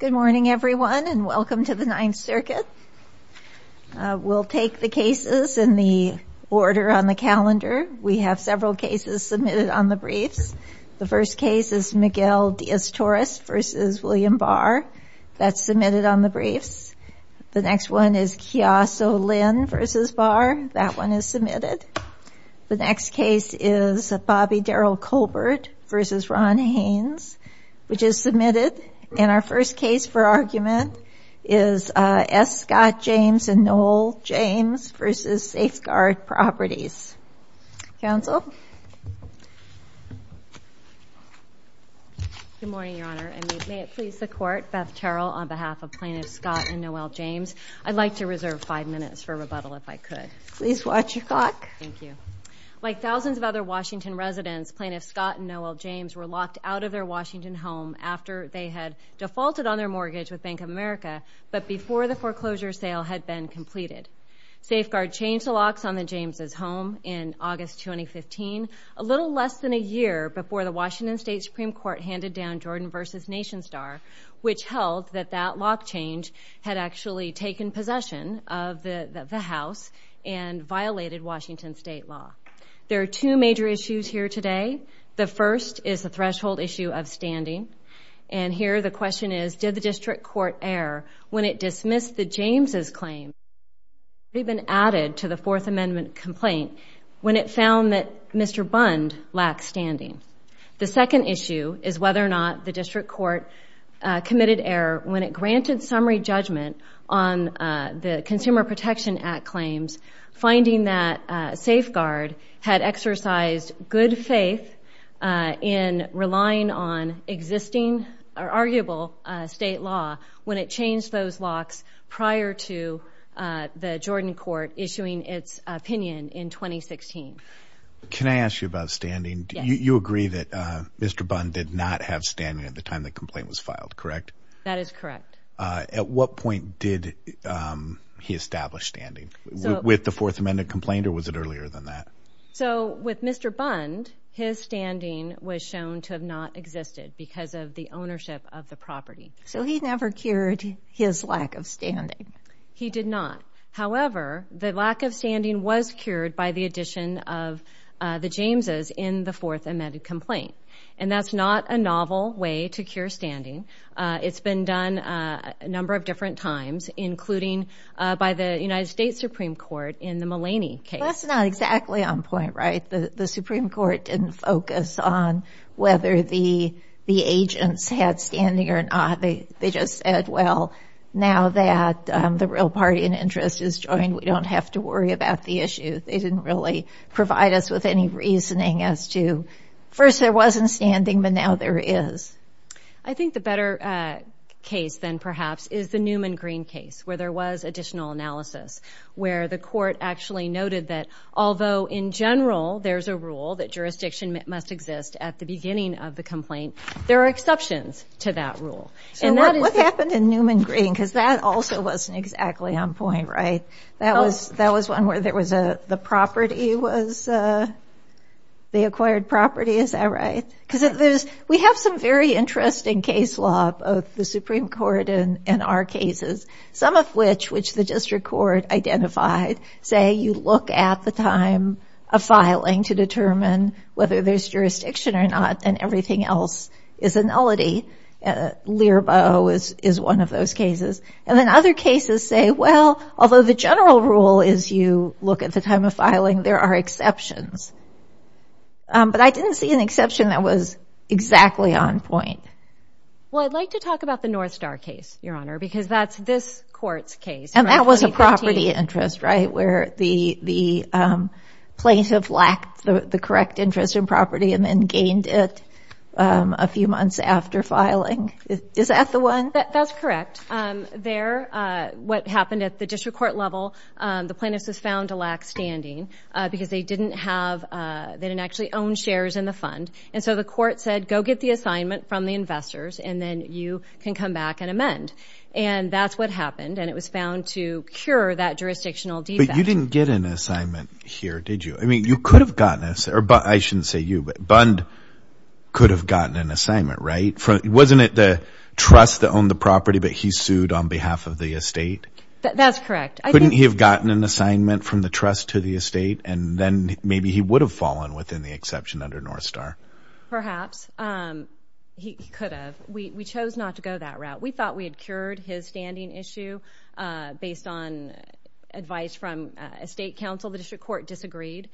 Good morning everyone and welcome to the Ninth Circuit. We'll take the cases in the order on the calendar. We have several cases submitted on the briefs. The first case is Miguel Diaz-Torres v. William Barr. That's submitted on the briefs. The next one is Kiaso Lin v. Barr. That one is submitted. The next case is Bobby Daryl Colbert v. Ron Haines. Which is submitted. And our first case for argument is S. Scott James v. Noel James v. Safeguard Properties. Counsel? Good morning, Your Honor. And may it please the Court, Beth Terrell on behalf of Plaintiffs Scott and Noel James. I'd like to reserve five minutes for rebuttal if I could. Please watch your clock. Thank you. Like thousands of other Washington residents, Plaintiffs Scott and Noel James were locked out of their Washington home after they had defaulted on their mortgage with Bank of America, but before the foreclosure sale had been completed. Safeguard changed the locks on the James' home in August 2015, a little less than a year before the Washington State Supreme Court handed down Jordan v. Nation Star, which held that that lock change had actually taken possession of the house and violated Washington state law. There are two major issues here today. The first is the threshold issue of standing. And here the question is, did the district court err when it dismissed the James' claim that had already been added to the Fourth Amendment complaint when it found that Mr. Bund lacked standing? The second issue is whether or not the district court committed error when it granted summary judgment on the Consumer Protection Act claims, finding that Safeguard had exercised good faith in relying on existing or arguable state law when it changed those locks prior to the Jordan court issuing its opinion in 2016. Can I ask you about standing? You agree that Mr. Bund did not have standing at the time the complaint was filed, correct? That is correct. At what point did he establish standing? With the Fourth Amendment complaint or was it earlier than that? So with Mr. Bund, his standing was shown to have not existed because of the ownership of the property. So he never cured his lack of standing? He did not. However, the lack of standing was cured by the addition of the James' in the Fourth Amendment complaint. And that's not a novel way to cure standing. It's been done a number of different times, including by the United States Supreme Court in the Mulaney case. That's not exactly on point, right? The Supreme Court didn't focus on whether the agents had standing or not. They just said, well, now that the real party in interest is joined, we don't have to worry about the issue. They didn't really provide us with any reasoning as to, first there wasn't standing, but now there is. I think the better case than perhaps is the Newman-Green case, where there was additional analysis, where the court actually noted that although in general there's a rule that jurisdiction must exist at the beginning of the complaint, there are exceptions to that rule. So what happened in Newman-Green? Because that also wasn't exactly on point, right? That was one where the acquired property, is that right? Because we have some very interesting case law, both the Supreme Court and our cases, some of which which the district court identified, say you look at the time of filing to determine whether there's jurisdiction or not, and everything else is a nullity. Leerbo is one of those cases. And then other cases say, well, although the general rule is you look at the time of filing, there are exceptions. But I didn't see an exception that was exactly on point. Well, I'd like to talk about the Northstar case, Your Honor, because that's this court's case. And that was a property interest, right? Where the plaintiff lacked the correct interest in property and then gained it a few months after filing. Is that the one? That's correct. There, what happened at the district court level, the plaintiff was found to lack standing because they didn't have, they didn't actually own shares in the fund. And so the court said, go get the assignment from the investors and then you can come back and amend. And that's what happened. And it was found to cure that jurisdictional defect. You didn't get an assignment here, did you? I mean, you could have gotten, or I shouldn't say you, but Bund could have gotten an assignment, right? Wasn't it the trust that owned the property, but he sued on behalf of the estate? That's correct. Couldn't he have gotten an assignment from the trust to the estate? And then maybe he would have fallen within the exception under Northstar. Perhaps. He could have. We chose not to go that route. We thought we had cured his standing issue based on advice from estate counsel. The district court disagreed.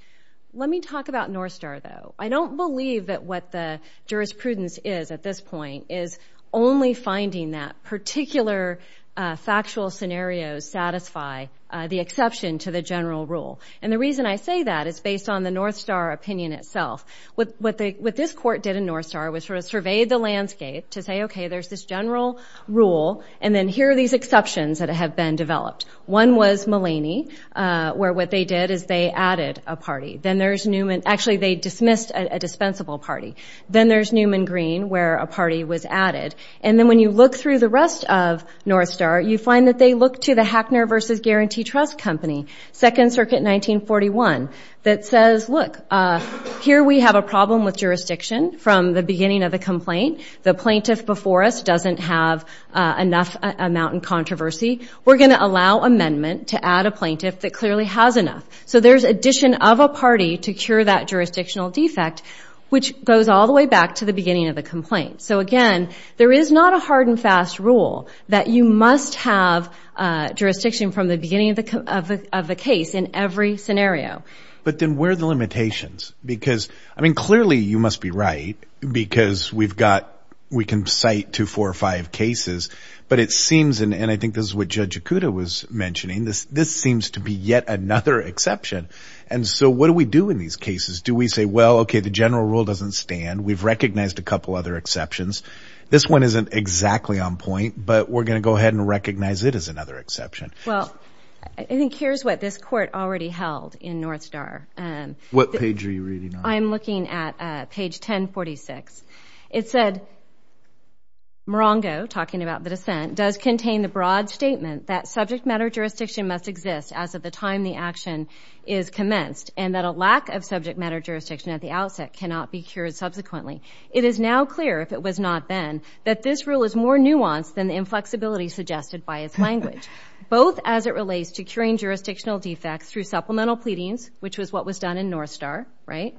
Let me talk about Northstar, though. I don't believe that what the jurisprudence is at this point is only finding that particular factual scenarios satisfy the exception to the general rule. And the reason I say that is based on the Northstar opinion itself. What this court did in Northstar was sort of survey the landscape to say, okay, there's this general rule, and then here are these exceptions that have been developed. One was Mulaney, where what they did is they added a party. Then there's Newman. Actually, they dismissed a dispensable party. Then there's Newman Green, where a party was added. And then when you look through the rest of Northstar, you find that they look to the Hackner v. Guarantee Trust Company, 2nd Circuit, 1941, that says, look, here we have a problem with jurisdiction from the beginning of the complaint. The plaintiff before us doesn't have enough amount in controversy. We're going to allow amendment to add a plaintiff that clearly has enough. So there's addition of a party to cure that jurisdictional defect, which goes all the way back to the beginning of the complaint. So again, there is not a hard and fast rule that you must have jurisdiction from the beginning of the case in every scenario. But then where are the limitations? Because, I mean, clearly you must be right, because we've got, we can cite two, four, five cases, but it seems, and I think this is what Judge Yakuta was mentioning, this seems to be yet another exception. And so what do we do in these cases? Do we say, well, okay, the general rule doesn't stand. We've recognized a couple other exceptions. This one isn't exactly on point, but we're going to go ahead and recognize it as another exception. Well, I think here's what this court already held in Northstar. What page are you reading on? I'm looking at page 1046. It said, Morongo, talking about the dissent, does contain the broad statement that subject matter jurisdiction must exist as of the time the action is commenced, and that a lack of subject matter jurisdiction at the outset cannot be cured subsequently. It is now clear, if it was not then, that this rule is more nuanced than the inflexibility suggested by its language, both as it relates to curing jurisdictional defects through supplemental pleadings, which was what was done in Northstar, right,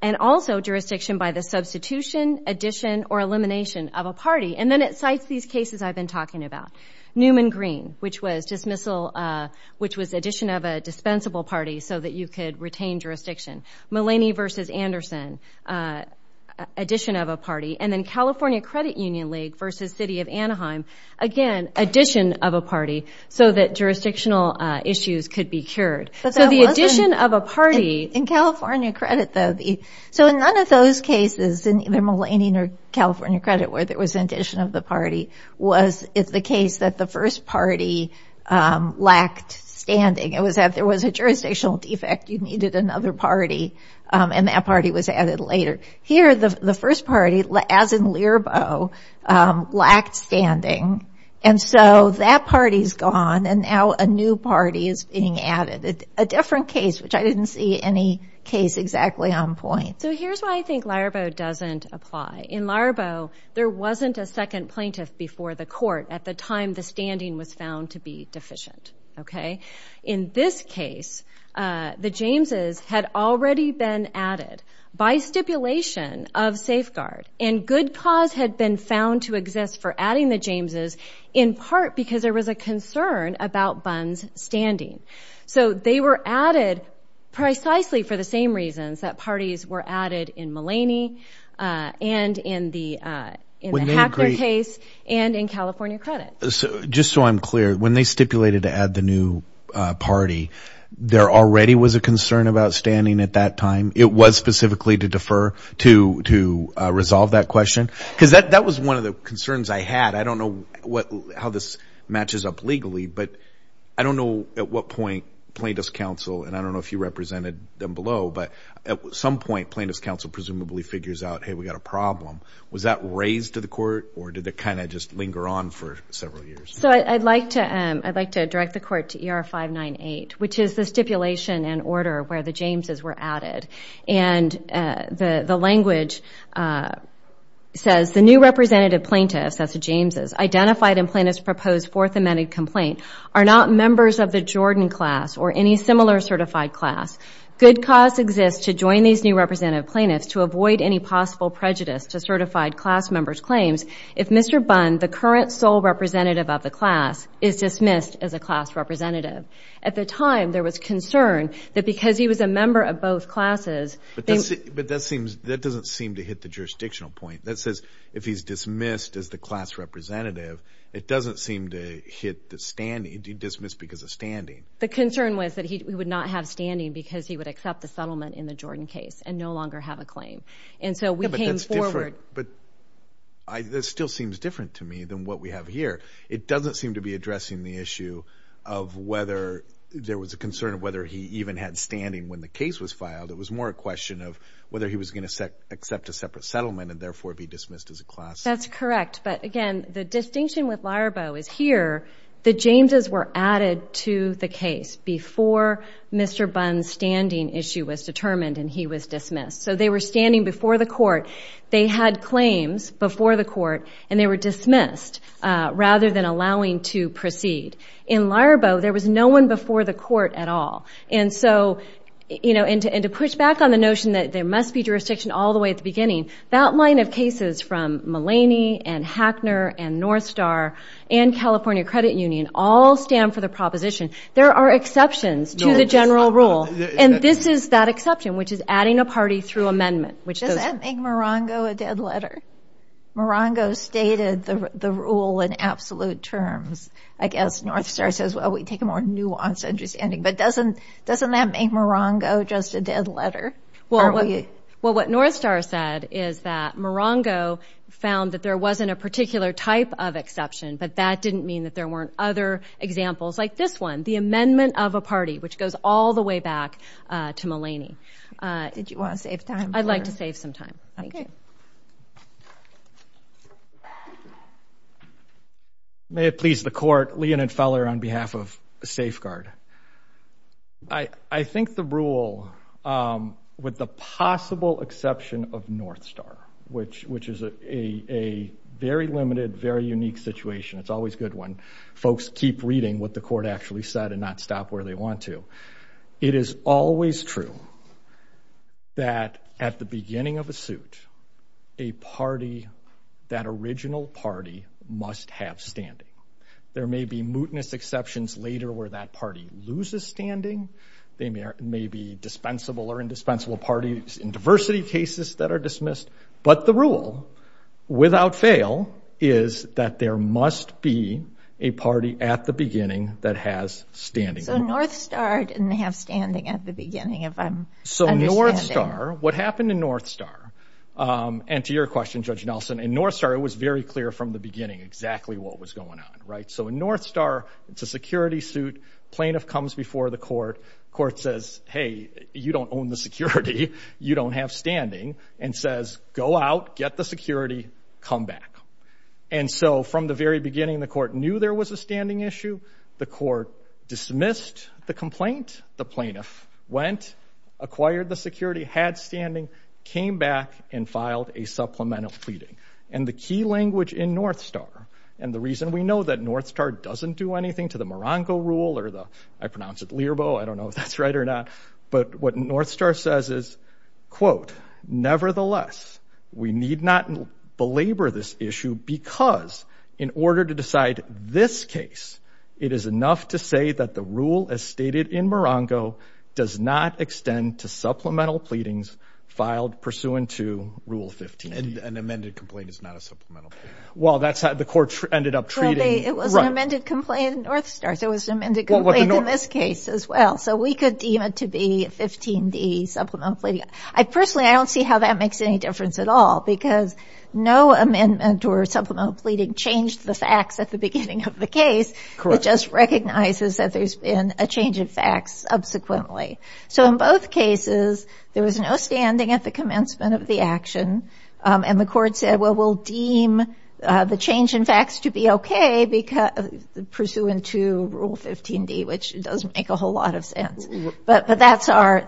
and also jurisdiction by the substitution, addition, or elimination of a party. And then it cites these cases I've been talking about. Newman-Green, which was dismissal, which was addition of a dispensable party so that you could retain jurisdiction. Mulaney v. Anderson, addition of a party. And then California Credit Union League v. City of Anaheim, again, addition of a party so that jurisdictional issues could be cured. So the addition of a party... In California Credit, though, the... So in none of those cases, in either Mulaney or California Credit, where there was an addition of the party, was the case that the first party lacked standing. It was that there was a jurisdictional defect, you needed another party, and that party was added later. Here, the first party, as in Laraboe, lacked standing. And so that party's gone, and now a new party is being added. A different case, which I didn't see any case exactly on point. So here's why I think Laraboe doesn't apply. In Laraboe, there wasn't a second plaintiff before the court at the time the standing was found to be deficient. In this case, the Jameses had already been added by stipulation of safeguard, and good cause had been found to exist for adding the Jameses, in part because there was a concern about Bunn's standing. So they were added precisely for the same reasons that parties were added in Mulaney and in the Hacker case and in California Credit. So just so I'm clear, when they stipulated to add the new party, there already was a concern about standing at that time? It was specifically to defer to resolve that question? Because that was one of the concerns I had. I don't know how this matches up legally, but I don't know at what point plaintiff's counsel, and I don't know if you represented them below, but at some point plaintiff's counsel presumably figures out, hey, we've got a problem. Was that raised to the court, or did it kind of just linger on for several years? So I'd like to direct the court to ER-598, which is the stipulation and order where the Jameses were added. And the language says, the new representative plaintiffs, that's the Jameses, identified in plaintiff's proposed Fourth Amendment complaint are not members of the Jordan class or any similar certified class. Good cause exists to join these new representative plaintiffs to avoid any possible prejudice to certified class members' claims if Mr. Bunn, the current sole representative of the class, is dismissed as a class representative. At the time, there was concern that because he was a member of both classes… But that doesn't seem to hit the jurisdictional point. That says if he's dismissed as the class representative, it doesn't seem to hit the standing, to dismiss because of standing. The concern was that he would not have standing because he would accept the settlement in the Jordan case and no longer have a claim. And so we came forward… But that still seems different to me than what we have here. It doesn't seem to be addressing the issue of whether there was a concern of whether he even had standing when the case was filed. It was more a question of whether he was going to accept a separate settlement and therefore be dismissed as a class. That's correct. But again, the distinction with Larbo is here, the Jameses were added to the case before Mr. Bunn's standing issue was determined and he was dismissed. So they were standing before the court, they had claims before the court, and they were dismissed rather than allowing to proceed. In Larbo, there was no one before the court at all. And to push back on the notion that there must be jurisdiction all the way at the beginning, that line of cases from Mullaney and Hackner and Northstar and California Credit Union all stand for the proposition. There are exceptions to the general rule. And this is that exception, which is adding a party through amendment. Does that make Morongo a dead letter? Morongo stated the rule in absolute terms. I guess Northstar says, well, we take a more nuanced understanding. But doesn't that make Morongo just a dead letter? Well, what Northstar said is that Morongo found that there wasn't a particular type of exception, but that didn't mean that there weren't other examples like this one, the amendment of a party, which goes all the way back to Mullaney. Did you want to save time? I'd like to save some time. May it please the court, Leonid Feller on behalf of Safeguard. I think the rule, with the possible exception of Northstar, which is a very limited, very unique situation, it's always good when folks keep reading what the court actually said and not stop where they want to. It is always true that at the beginning of a suit, a party, that original party, must have standing. There may be mootness exceptions later where that party loses standing. They may be dispensable or indispensable parties in diversity cases that are dismissed. But the rule, without fail, is that there must be a party at the beginning that has standing. So Northstar didn't have standing at the beginning, if I'm understanding. So Northstar, what happened in Northstar, and to your question, Judge Nelson, in Northstar, it was very clear from the beginning exactly what was going on. So in Northstar, it's a security suit, plaintiff comes before the court, court says, hey, you don't own the security, you don't have standing, and says, go out, get the security, come back. And so from the very beginning, the court knew there was a standing issue. The court dismissed the complaint. The plaintiff went, acquired the security, had standing, came back, and filed a supplemental pleading. And the key language in Northstar, and the reason we know that Northstar doesn't do anything to the Morongo Rule or the, I pronounce it LIRBO, I don't know if that's right or not, but what Northstar says is, quote, nevertheless, we need not belabor this issue because in order to decide this case, it is enough to say that the rule as stated in Morongo does not extend to supplemental pleadings filed pursuant to Rule 15. And an amended complaint is not a supplemental pleading. Well, that's how the court ended up treating. Well, it was an amended complaint in Northstar, so it was an amended complaint in this case as well. So we could deem it to be 15D, supplemental pleading. I personally, I don't see how that makes any difference at all because no amendment or supplemental pleading changed the facts at the beginning of the case. Correct. It just recognizes that there's been a change in facts subsequently. So in both cases, there was no standing at the commencement of the action. And the court said, well, we'll deem the change in facts to be okay pursuant to Rule 15D, which doesn't make a whole lot of sense. But that's our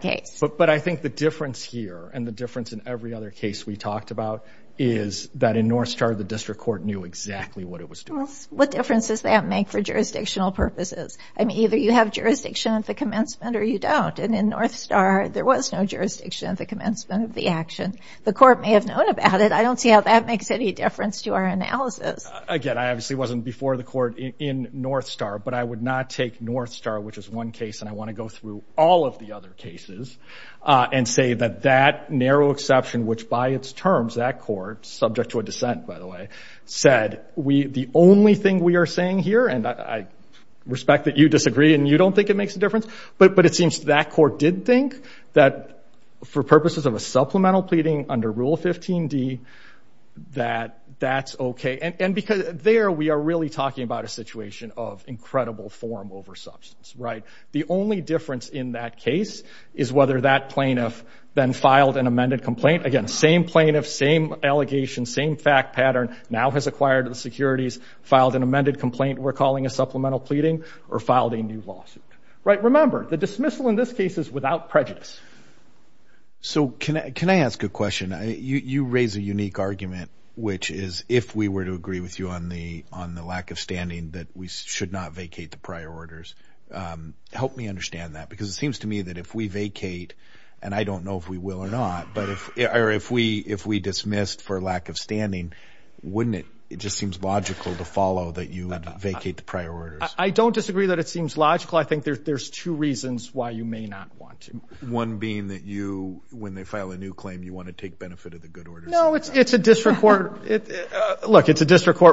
case. But I think the difference here and the difference in every other case we talked about is that in Northstar, the district court knew exactly what it was doing. What difference does that make for jurisdictional purposes? I mean, either you have jurisdiction at the commencement or you don't. And in Northstar, there was no jurisdiction at the commencement of the action. The court may have known about it. I don't see how that makes any difference to our analysis. Again, I obviously wasn't before the court in Northstar, but I would not take Northstar, which is one case, and I want to go through all of the other cases and say that that narrow exception, which by its terms, that court, subject to a dissent, by the way, said the only thing we are saying here, and I respect that you disagree and you don't think it makes a difference, but it seems that court did think that for purposes of a supplemental pleading under Rule 15D, that that's okay. And there we are really talking about a situation of incredible form over substance. The only difference in that case is whether that plaintiff then filed an amended complaint. Again, same plaintiff, same allegation, same fact pattern, now has acquired the securities, filed an amended complaint we're calling a supplemental pleading, or filed a new lawsuit. Remember, the dismissal in this case is without prejudice. So can I ask a question? You raise a unique argument, which is if we were to agree with you on the lack of standing, that we should not vacate the prior orders. Help me understand that, because it seems to me that if we vacate, and I don't know if we will or not, but if we dismissed for lack of standing, wouldn't it just seem logical to follow that you would vacate the prior orders? I don't disagree that it seems logical. I think there's two reasons why you may not want to. One being that you, when they file a new claim, you want to take benefit of the good orders. No, it's a district court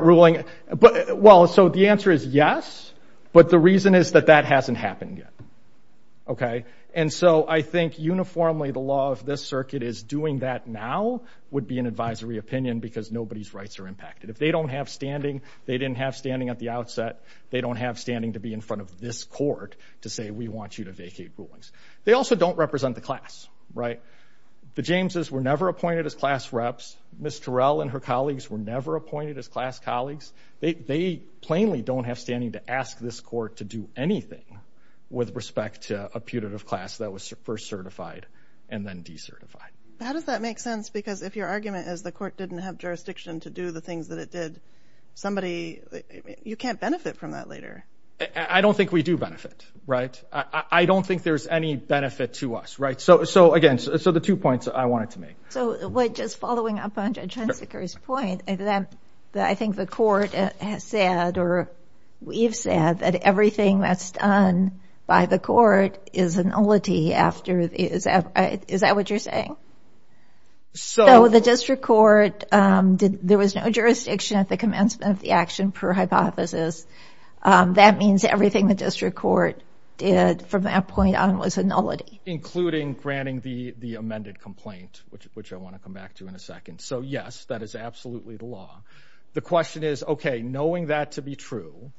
ruling. Well, so the answer is yes, but the reason is that that hasn't happened yet. And so I think uniformly the law of this circuit is doing that now would be an advisory opinion, because nobody's rights are impacted. If they don't have standing, they didn't have standing at the outset. They don't have standing to be in front of this court to say we want you to vacate rulings. They also don't represent the class, right? The Jameses were never appointed as class reps. Ms. Terrell and her colleagues were never appointed as class colleagues. They plainly don't have standing to ask this court to do anything with respect to a putative class that was first certified and then decertified. How does that make sense? Because if your argument is the court didn't have jurisdiction to do the things that it did, somebody, you can't benefit from that later. I don't think we do benefit. Right. I don't think there's any benefit to us. Right. So. So, again, so the two points I wanted to make. So just following up on Judge Hunsaker's point, I think the court has said or we've said that everything that's done by the court is an only after. Is that what you're saying? So the district court did. There was no jurisdiction at the commencement of the action per hypothesis. That means everything the district court did from that point on was a nullity, including granting the amended complaint, which I want to come back to in a second. So, yes, that is absolutely the law. The question is, OK, knowing that to be true.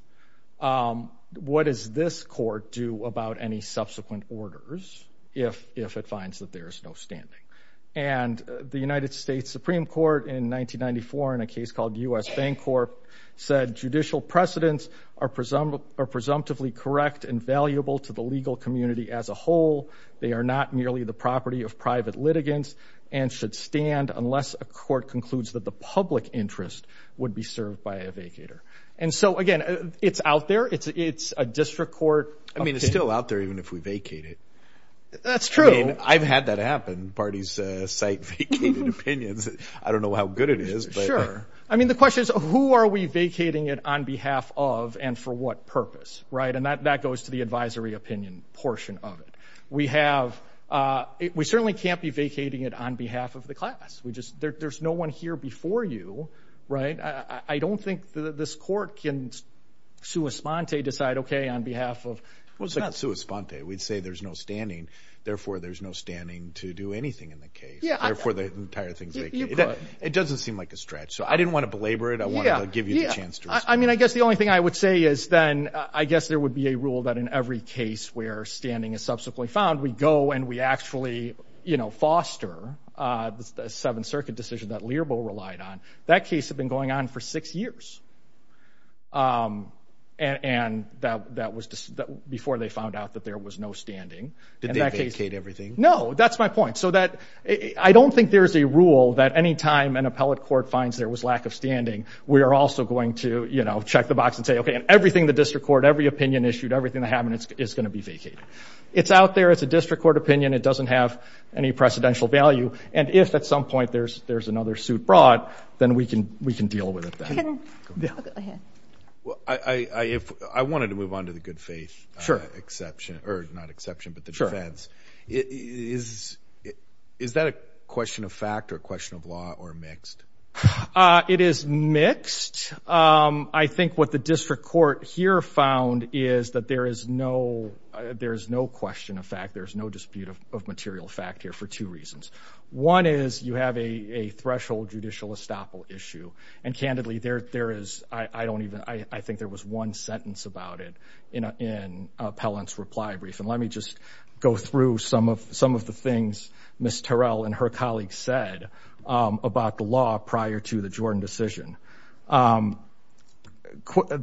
What does this court do about any subsequent orders if it finds that there is no standing? And the United States Supreme Court in 1994 in a case called U.S. Bancorp said judicial precedents are presumptively correct and valuable to the legal community as a whole. They are not merely the property of private litigants and should stand unless a court concludes that the public interest would be served by a vacator. And so, again, it's out there. It's it's a district court. I mean, it's still out there even if we vacate it. That's true. I've had that happen. Parties say opinions. I don't know how good it is. Sure. I mean, the question is, who are we vacating it on behalf of and for what purpose? Right. And that that goes to the advisory opinion portion of it. We have we certainly can't be vacating it on behalf of the class. We just there's no one here before you. Right. I don't think this court can sui sponte decide, OK, on behalf of. Well, it's not sui sponte. We'd say there's no standing. Therefore, there's no standing to do anything in the case. Therefore, the entire thing. It doesn't seem like a stretch. So I didn't want to belabor it. I want to give you a chance. I mean, I guess the only thing I would say is then I guess there would be a rule that in every case where standing is subsequently found, we go and we actually, you know, foster the Seventh Circuit decision that Learbo relied on. That case had been going on for six years. And that that was before they found out that there was no standing. Did they vacate everything? No, that's my point. So that I don't think there is a rule that any time an appellate court finds there was lack of standing. We are also going to, you know, check the box and say, OK, and everything the district court, every opinion issued, everything that happened is going to be vacated. It's out there. It's a district court opinion. It doesn't have any precedential value. And if at some point there's there's another suit brought, then we can we can deal with it. I wanted to move on to the good faith. Sure. Exception or not exception, but the defense is. Is that a question of fact or a question of law or mixed? It is mixed. I think what the district court here found is that there is no there is no question of fact. There is no dispute of material fact here for two reasons. One is you have a threshold judicial estoppel issue. And candidly, there there is. I don't even I think there was one sentence about it in an appellant's reply brief. Let me just go through some of some of the things Miss Terrell and her colleagues said about the law prior to the Jordan decision.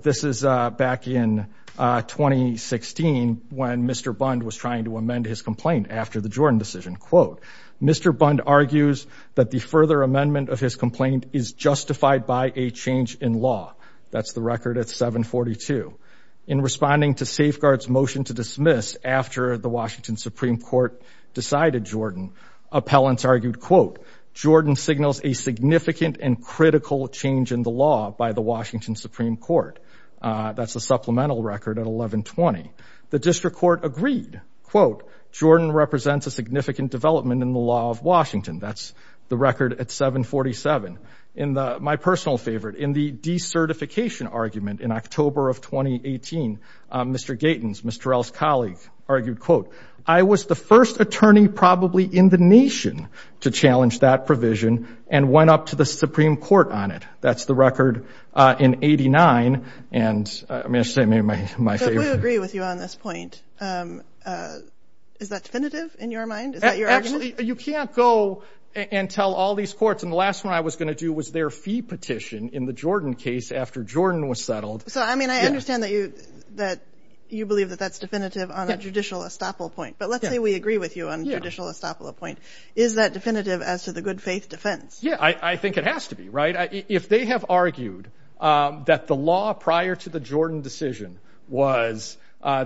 This is back in 2016 when Mr. Bund was trying to amend his complaint after the Jordan decision. Quote, Mr. Bund argues that the further amendment of his complaint is justified by a change in law. That's the record at 742. In responding to safeguards motion to dismiss after the Washington Supreme Court decided Jordan, appellants argued, quote, Jordan signals a significant and critical change in the law by the Washington Supreme Court. That's a supplemental record at 1120. The district court agreed, quote, Jordan represents a significant development in the law of Washington. That's the record at 747. In my personal favorite, in the decertification argument in October of 2018, Mr. Gatins, Miss Terrell's colleague, argued, quote, I was the first attorney probably in the nation to challenge that provision and went up to the Supreme Court on it. That's the record in 89. And I mean, I say maybe my favorite agree with you on this point. Is that definitive in your mind? You can't go and tell all these courts. And the last one I was going to do was their fee petition in the Jordan case after Jordan was settled. So, I mean, I understand that you that you believe that that's definitive on a judicial estoppel point. But let's say we agree with you on a judicial estoppel point. Is that definitive as to the good faith defense? Yeah, I think it has to be right. If they have argued that the law prior to the Jordan decision was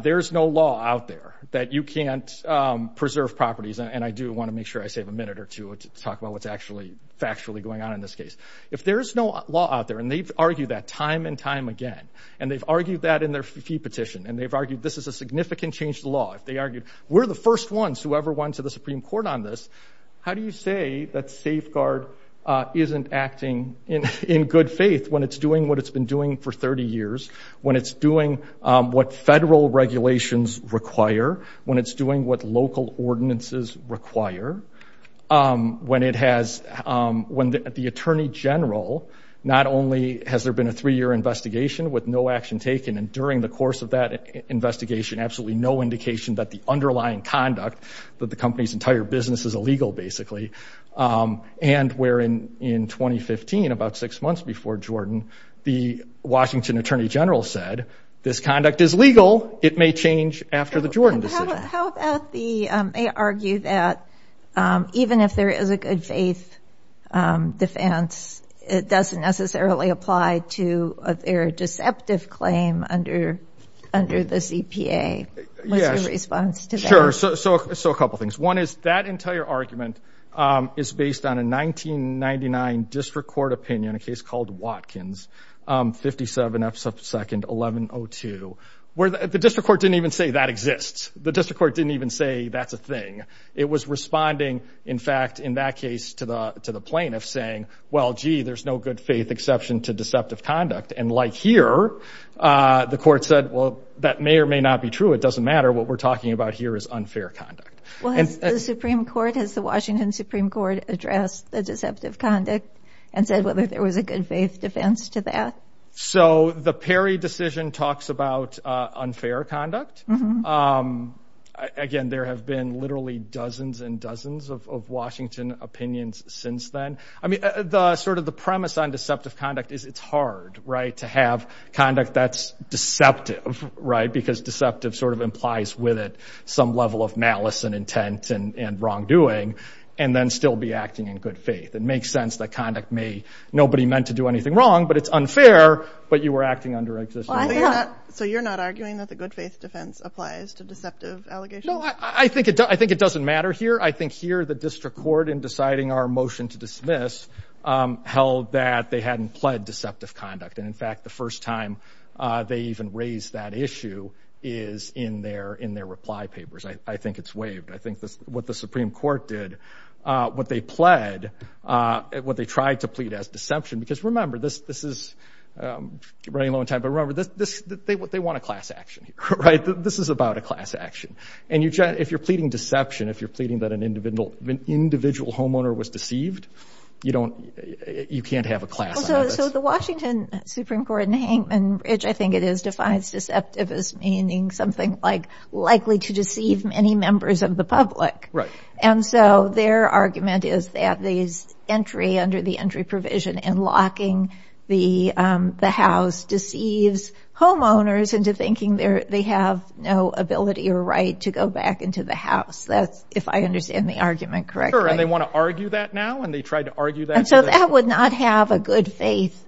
there is no law out there that you can't preserve properties. And I do want to make sure I save a minute or two to talk about what's actually factually going on in this case. If there is no law out there and they've argued that time and time again, and they've argued that in their fee petition, and they've argued this is a significant change to law. If they argued we're the first ones who ever went to the Supreme Court on this. How do you say that safeguard isn't acting in good faith when it's doing what it's been doing for 30 years, when it's doing what federal regulations require, when it's doing what local ordinances require, when it has when the attorney general not only has there been a three year investigation with no action taken, and during the course of that investigation, absolutely no indication that the underlying conduct that the company's entire business is illegal, basically. And where in 2015, about six months before Jordan, the Washington attorney general said, this conduct is legal. It may change after the Jordan decision. How about they argue that even if there is a good faith defense, it doesn't necessarily apply to their deceptive claim under the CPA? What's your response to that? Sure. So a couple of things. One is that entire argument is based on a 1999 district court opinion, a case called Watkins, 57F2nd1102, where the district court didn't even say that exists. The district court didn't even say that's a thing. It was responding, in fact, in that case to the plaintiff saying, well, gee, there's no good faith exception to deceptive conduct. And like here, the court said, well, that may or may not be true. It doesn't matter. What we're talking about here is unfair conduct. Well, has the Supreme Court, has the Washington Supreme Court addressed the deceptive conduct and said whether there was a good faith defense to that? So the Perry decision talks about unfair conduct. Again, there have been literally dozens and dozens of Washington opinions since then. I mean, sort of the premise on deceptive conduct is it's hard, right, to have conduct that's deceptive, right, because deceptive sort of implies with it some level of malice and intent and wrongdoing, and then still be acting in good faith. It makes sense that conduct may, nobody meant to do anything wrong, but it's unfair, but you were acting under excessive. So you're not arguing that the good faith defense applies to deceptive allegations? No, I think it doesn't matter here. I think here the district court, in deciding our motion to dismiss, held that they hadn't pled deceptive conduct. And, in fact, the first time they even raised that issue is in their reply papers. I think it's waived. I think what the Supreme Court did, what they pled, what they tried to plead as deception, because remember, this is running low on time, but remember, they want a class action here, right? This is about a class action. And if you're pleading deception, if you're pleading that an individual homeowner was deceived, you can't have a class on this. So the Washington Supreme Court in Hankman Ridge, I think it is, defines deceptive as meaning something like likely to deceive many members of the public. Right. And so their argument is that these entry under the entry provision and locking the house deceives homeowners into thinking they have no ability or right to go back into the house. That's, if I understand the argument correctly. Sure, and they want to argue that now, and they tried to argue that. And so that would not have a good faith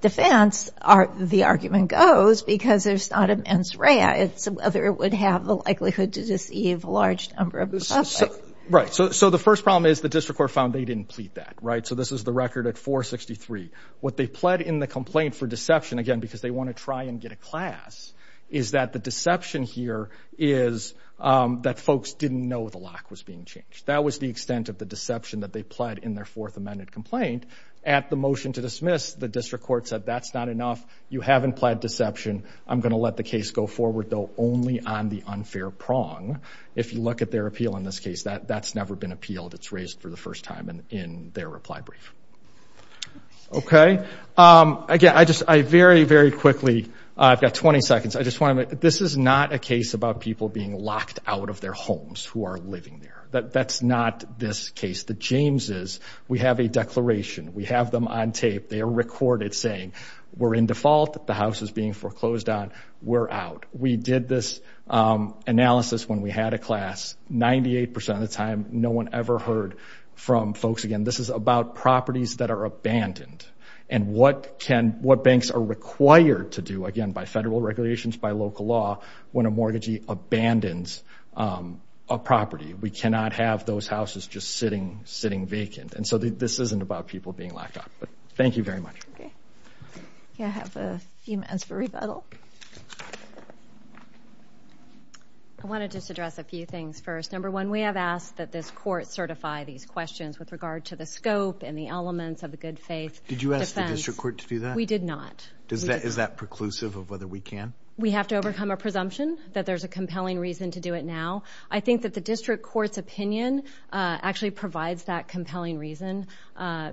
defense, the argument goes, because there's not immense right. It's whether it would have the likelihood to deceive a large number of the public. Right. So the first problem is the district court found they didn't plead that, right? So this is the record at 463. What they pled in the complaint for deception, again, because they want to try and get a class, is that the deception here is that folks didn't know the lock was being changed. That was the extent of the deception that they pled in their fourth amended complaint. At the motion to dismiss, the district court said, that's not enough. You haven't pled deception. I'm going to let the case go forward, though, only on the unfair prong. If you look at their appeal in this case, that's never been appealed. It's raised for the first time in their reply brief. Okay. Again, I just, I very, very quickly, I've got 20 seconds, I just want to make, this is not a case about people being locked out of their homes who are living there. That's not this case. The Jameses, we have a declaration. We have them on tape. They are recorded saying, we're in default. The house is being foreclosed on. We're out. We did this analysis when we had a class. Ninety-eight percent of the time, no one ever heard from folks again. This is about properties that are abandoned and what banks are required to do, again, by federal regulations, by local law, when a mortgagee abandons a property. We cannot have those houses just sitting vacant. And so this isn't about people being locked up. Thank you very much. Okay. I have a few minutes for rebuttal. I want to just address a few things first. Number one, we have asked that this court certify these questions with regard to the scope and the elements of the good faith defense. Did you ask the district court to do that? We did not. Is that preclusive of whether we can? We have to overcome a presumption that there's a compelling reason to do it now. I think that the district court's opinion actually provides that compelling reason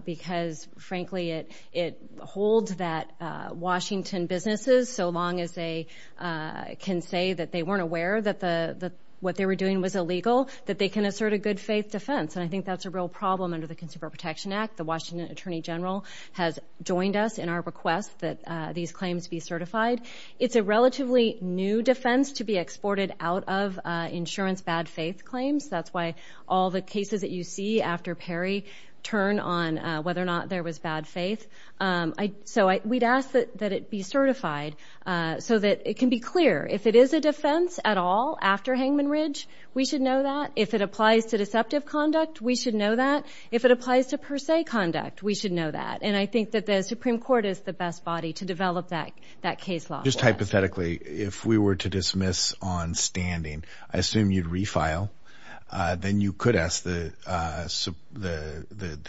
because, frankly, it holds that Washington businesses, so long as they can say that they weren't aware that what they were doing was illegal, that they can assert a good faith defense. And I think that's a real problem under the Consumer Protection Act. The Washington Attorney General has joined us in our request that these claims be certified. It's a relatively new defense to be exported out of insurance bad faith claims. That's why all the cases that you see after Perry turn on whether or not there was bad faith. So we'd ask that it be certified so that it can be clear. If it is a defense at all after Hangman Ridge, we should know that. If it applies to deceptive conduct, we should know that. If it applies to per se conduct, we should know that. And I think that the Supreme Court is the best body to develop that case law. Just hypothetically, if we were to dismiss on standing, I assume you'd refile. Then you could ask the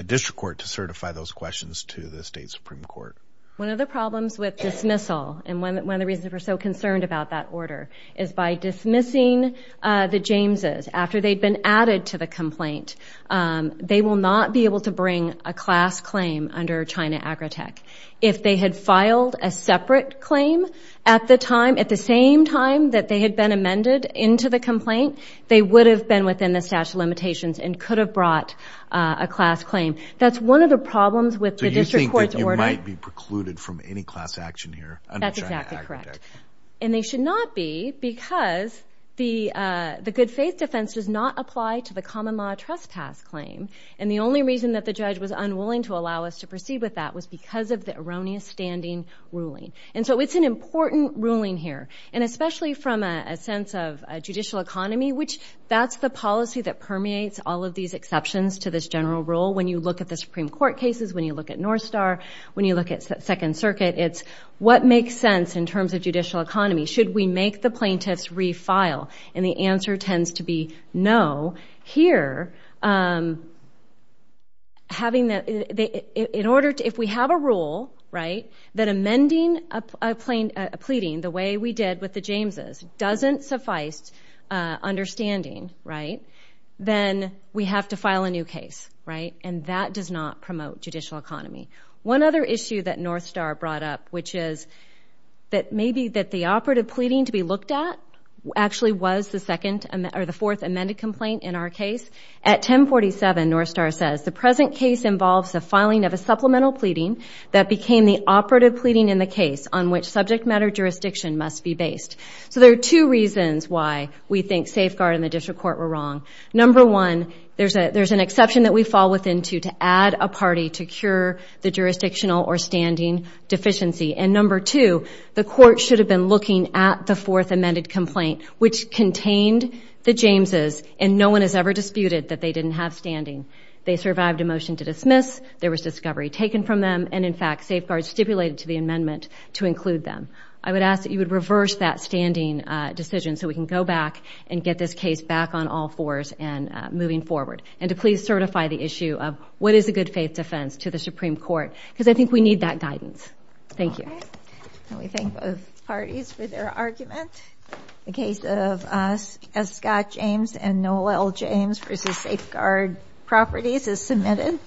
district court to certify those questions to the state Supreme Court. One of the problems with dismissal, and one of the reasons we're so concerned about that order, is by dismissing the Jameses after they've been added to the complaint, they will not be able to bring a class claim under China Agritech. If they had filed a separate claim at the time, at the same time that they had been amended into the complaint, they would have been within the statute of limitations and could have brought a class claim. That's one of the problems with the district court's order. So you think that you might be precluded from any class action here under China Agritech? That's exactly correct. And they should not be because the good faith defense does not apply to the common law trespass claim. And the only reason that the judge was unwilling to allow us to proceed with that was because of the erroneous standing ruling. And so it's an important ruling here. And especially from a sense of a judicial economy, which that's the policy that permeates all of these exceptions to this general rule. When you look at the Supreme Court cases, when you look at North Star, when you look at Second Circuit, it's what makes sense in terms of judicial economy. Should we make the plaintiffs refile? And the answer tends to be no. Here, if we have a rule that amending a pleading the way we did with the Jameses doesn't suffice understanding, then we have to file a new case. And that does not promote judicial economy. One other issue that North Star brought up, which is that maybe that the operative pleading to be looked at actually was the fourth amended complaint in our case. At 1047, North Star says, the present case involves the filing of a supplemental pleading that became the operative pleading in the case on which subject matter jurisdiction must be based. So there are two reasons why we think safeguard in the district court were wrong. Number one, there's an exception that we fall within to add a party to cure the jurisdictional or standing deficiency. And number two, the court should have been looking at the fourth amended complaint, which contained the Jameses, and no one has ever disputed that they didn't have standing. They survived a motion to dismiss. There was discovery taken from them. And, in fact, safeguards stipulated to the amendment to include them. I would ask that you would reverse that standing decision so we can go back and get this case back on all fours and moving forward. And to please certify the issue of what is a good faith defense to the Supreme Court, because I think we need that guidance. Thank you. We thank both parties for their argument. The case of Scott James and Noel James v. Safeguard Properties is submitted.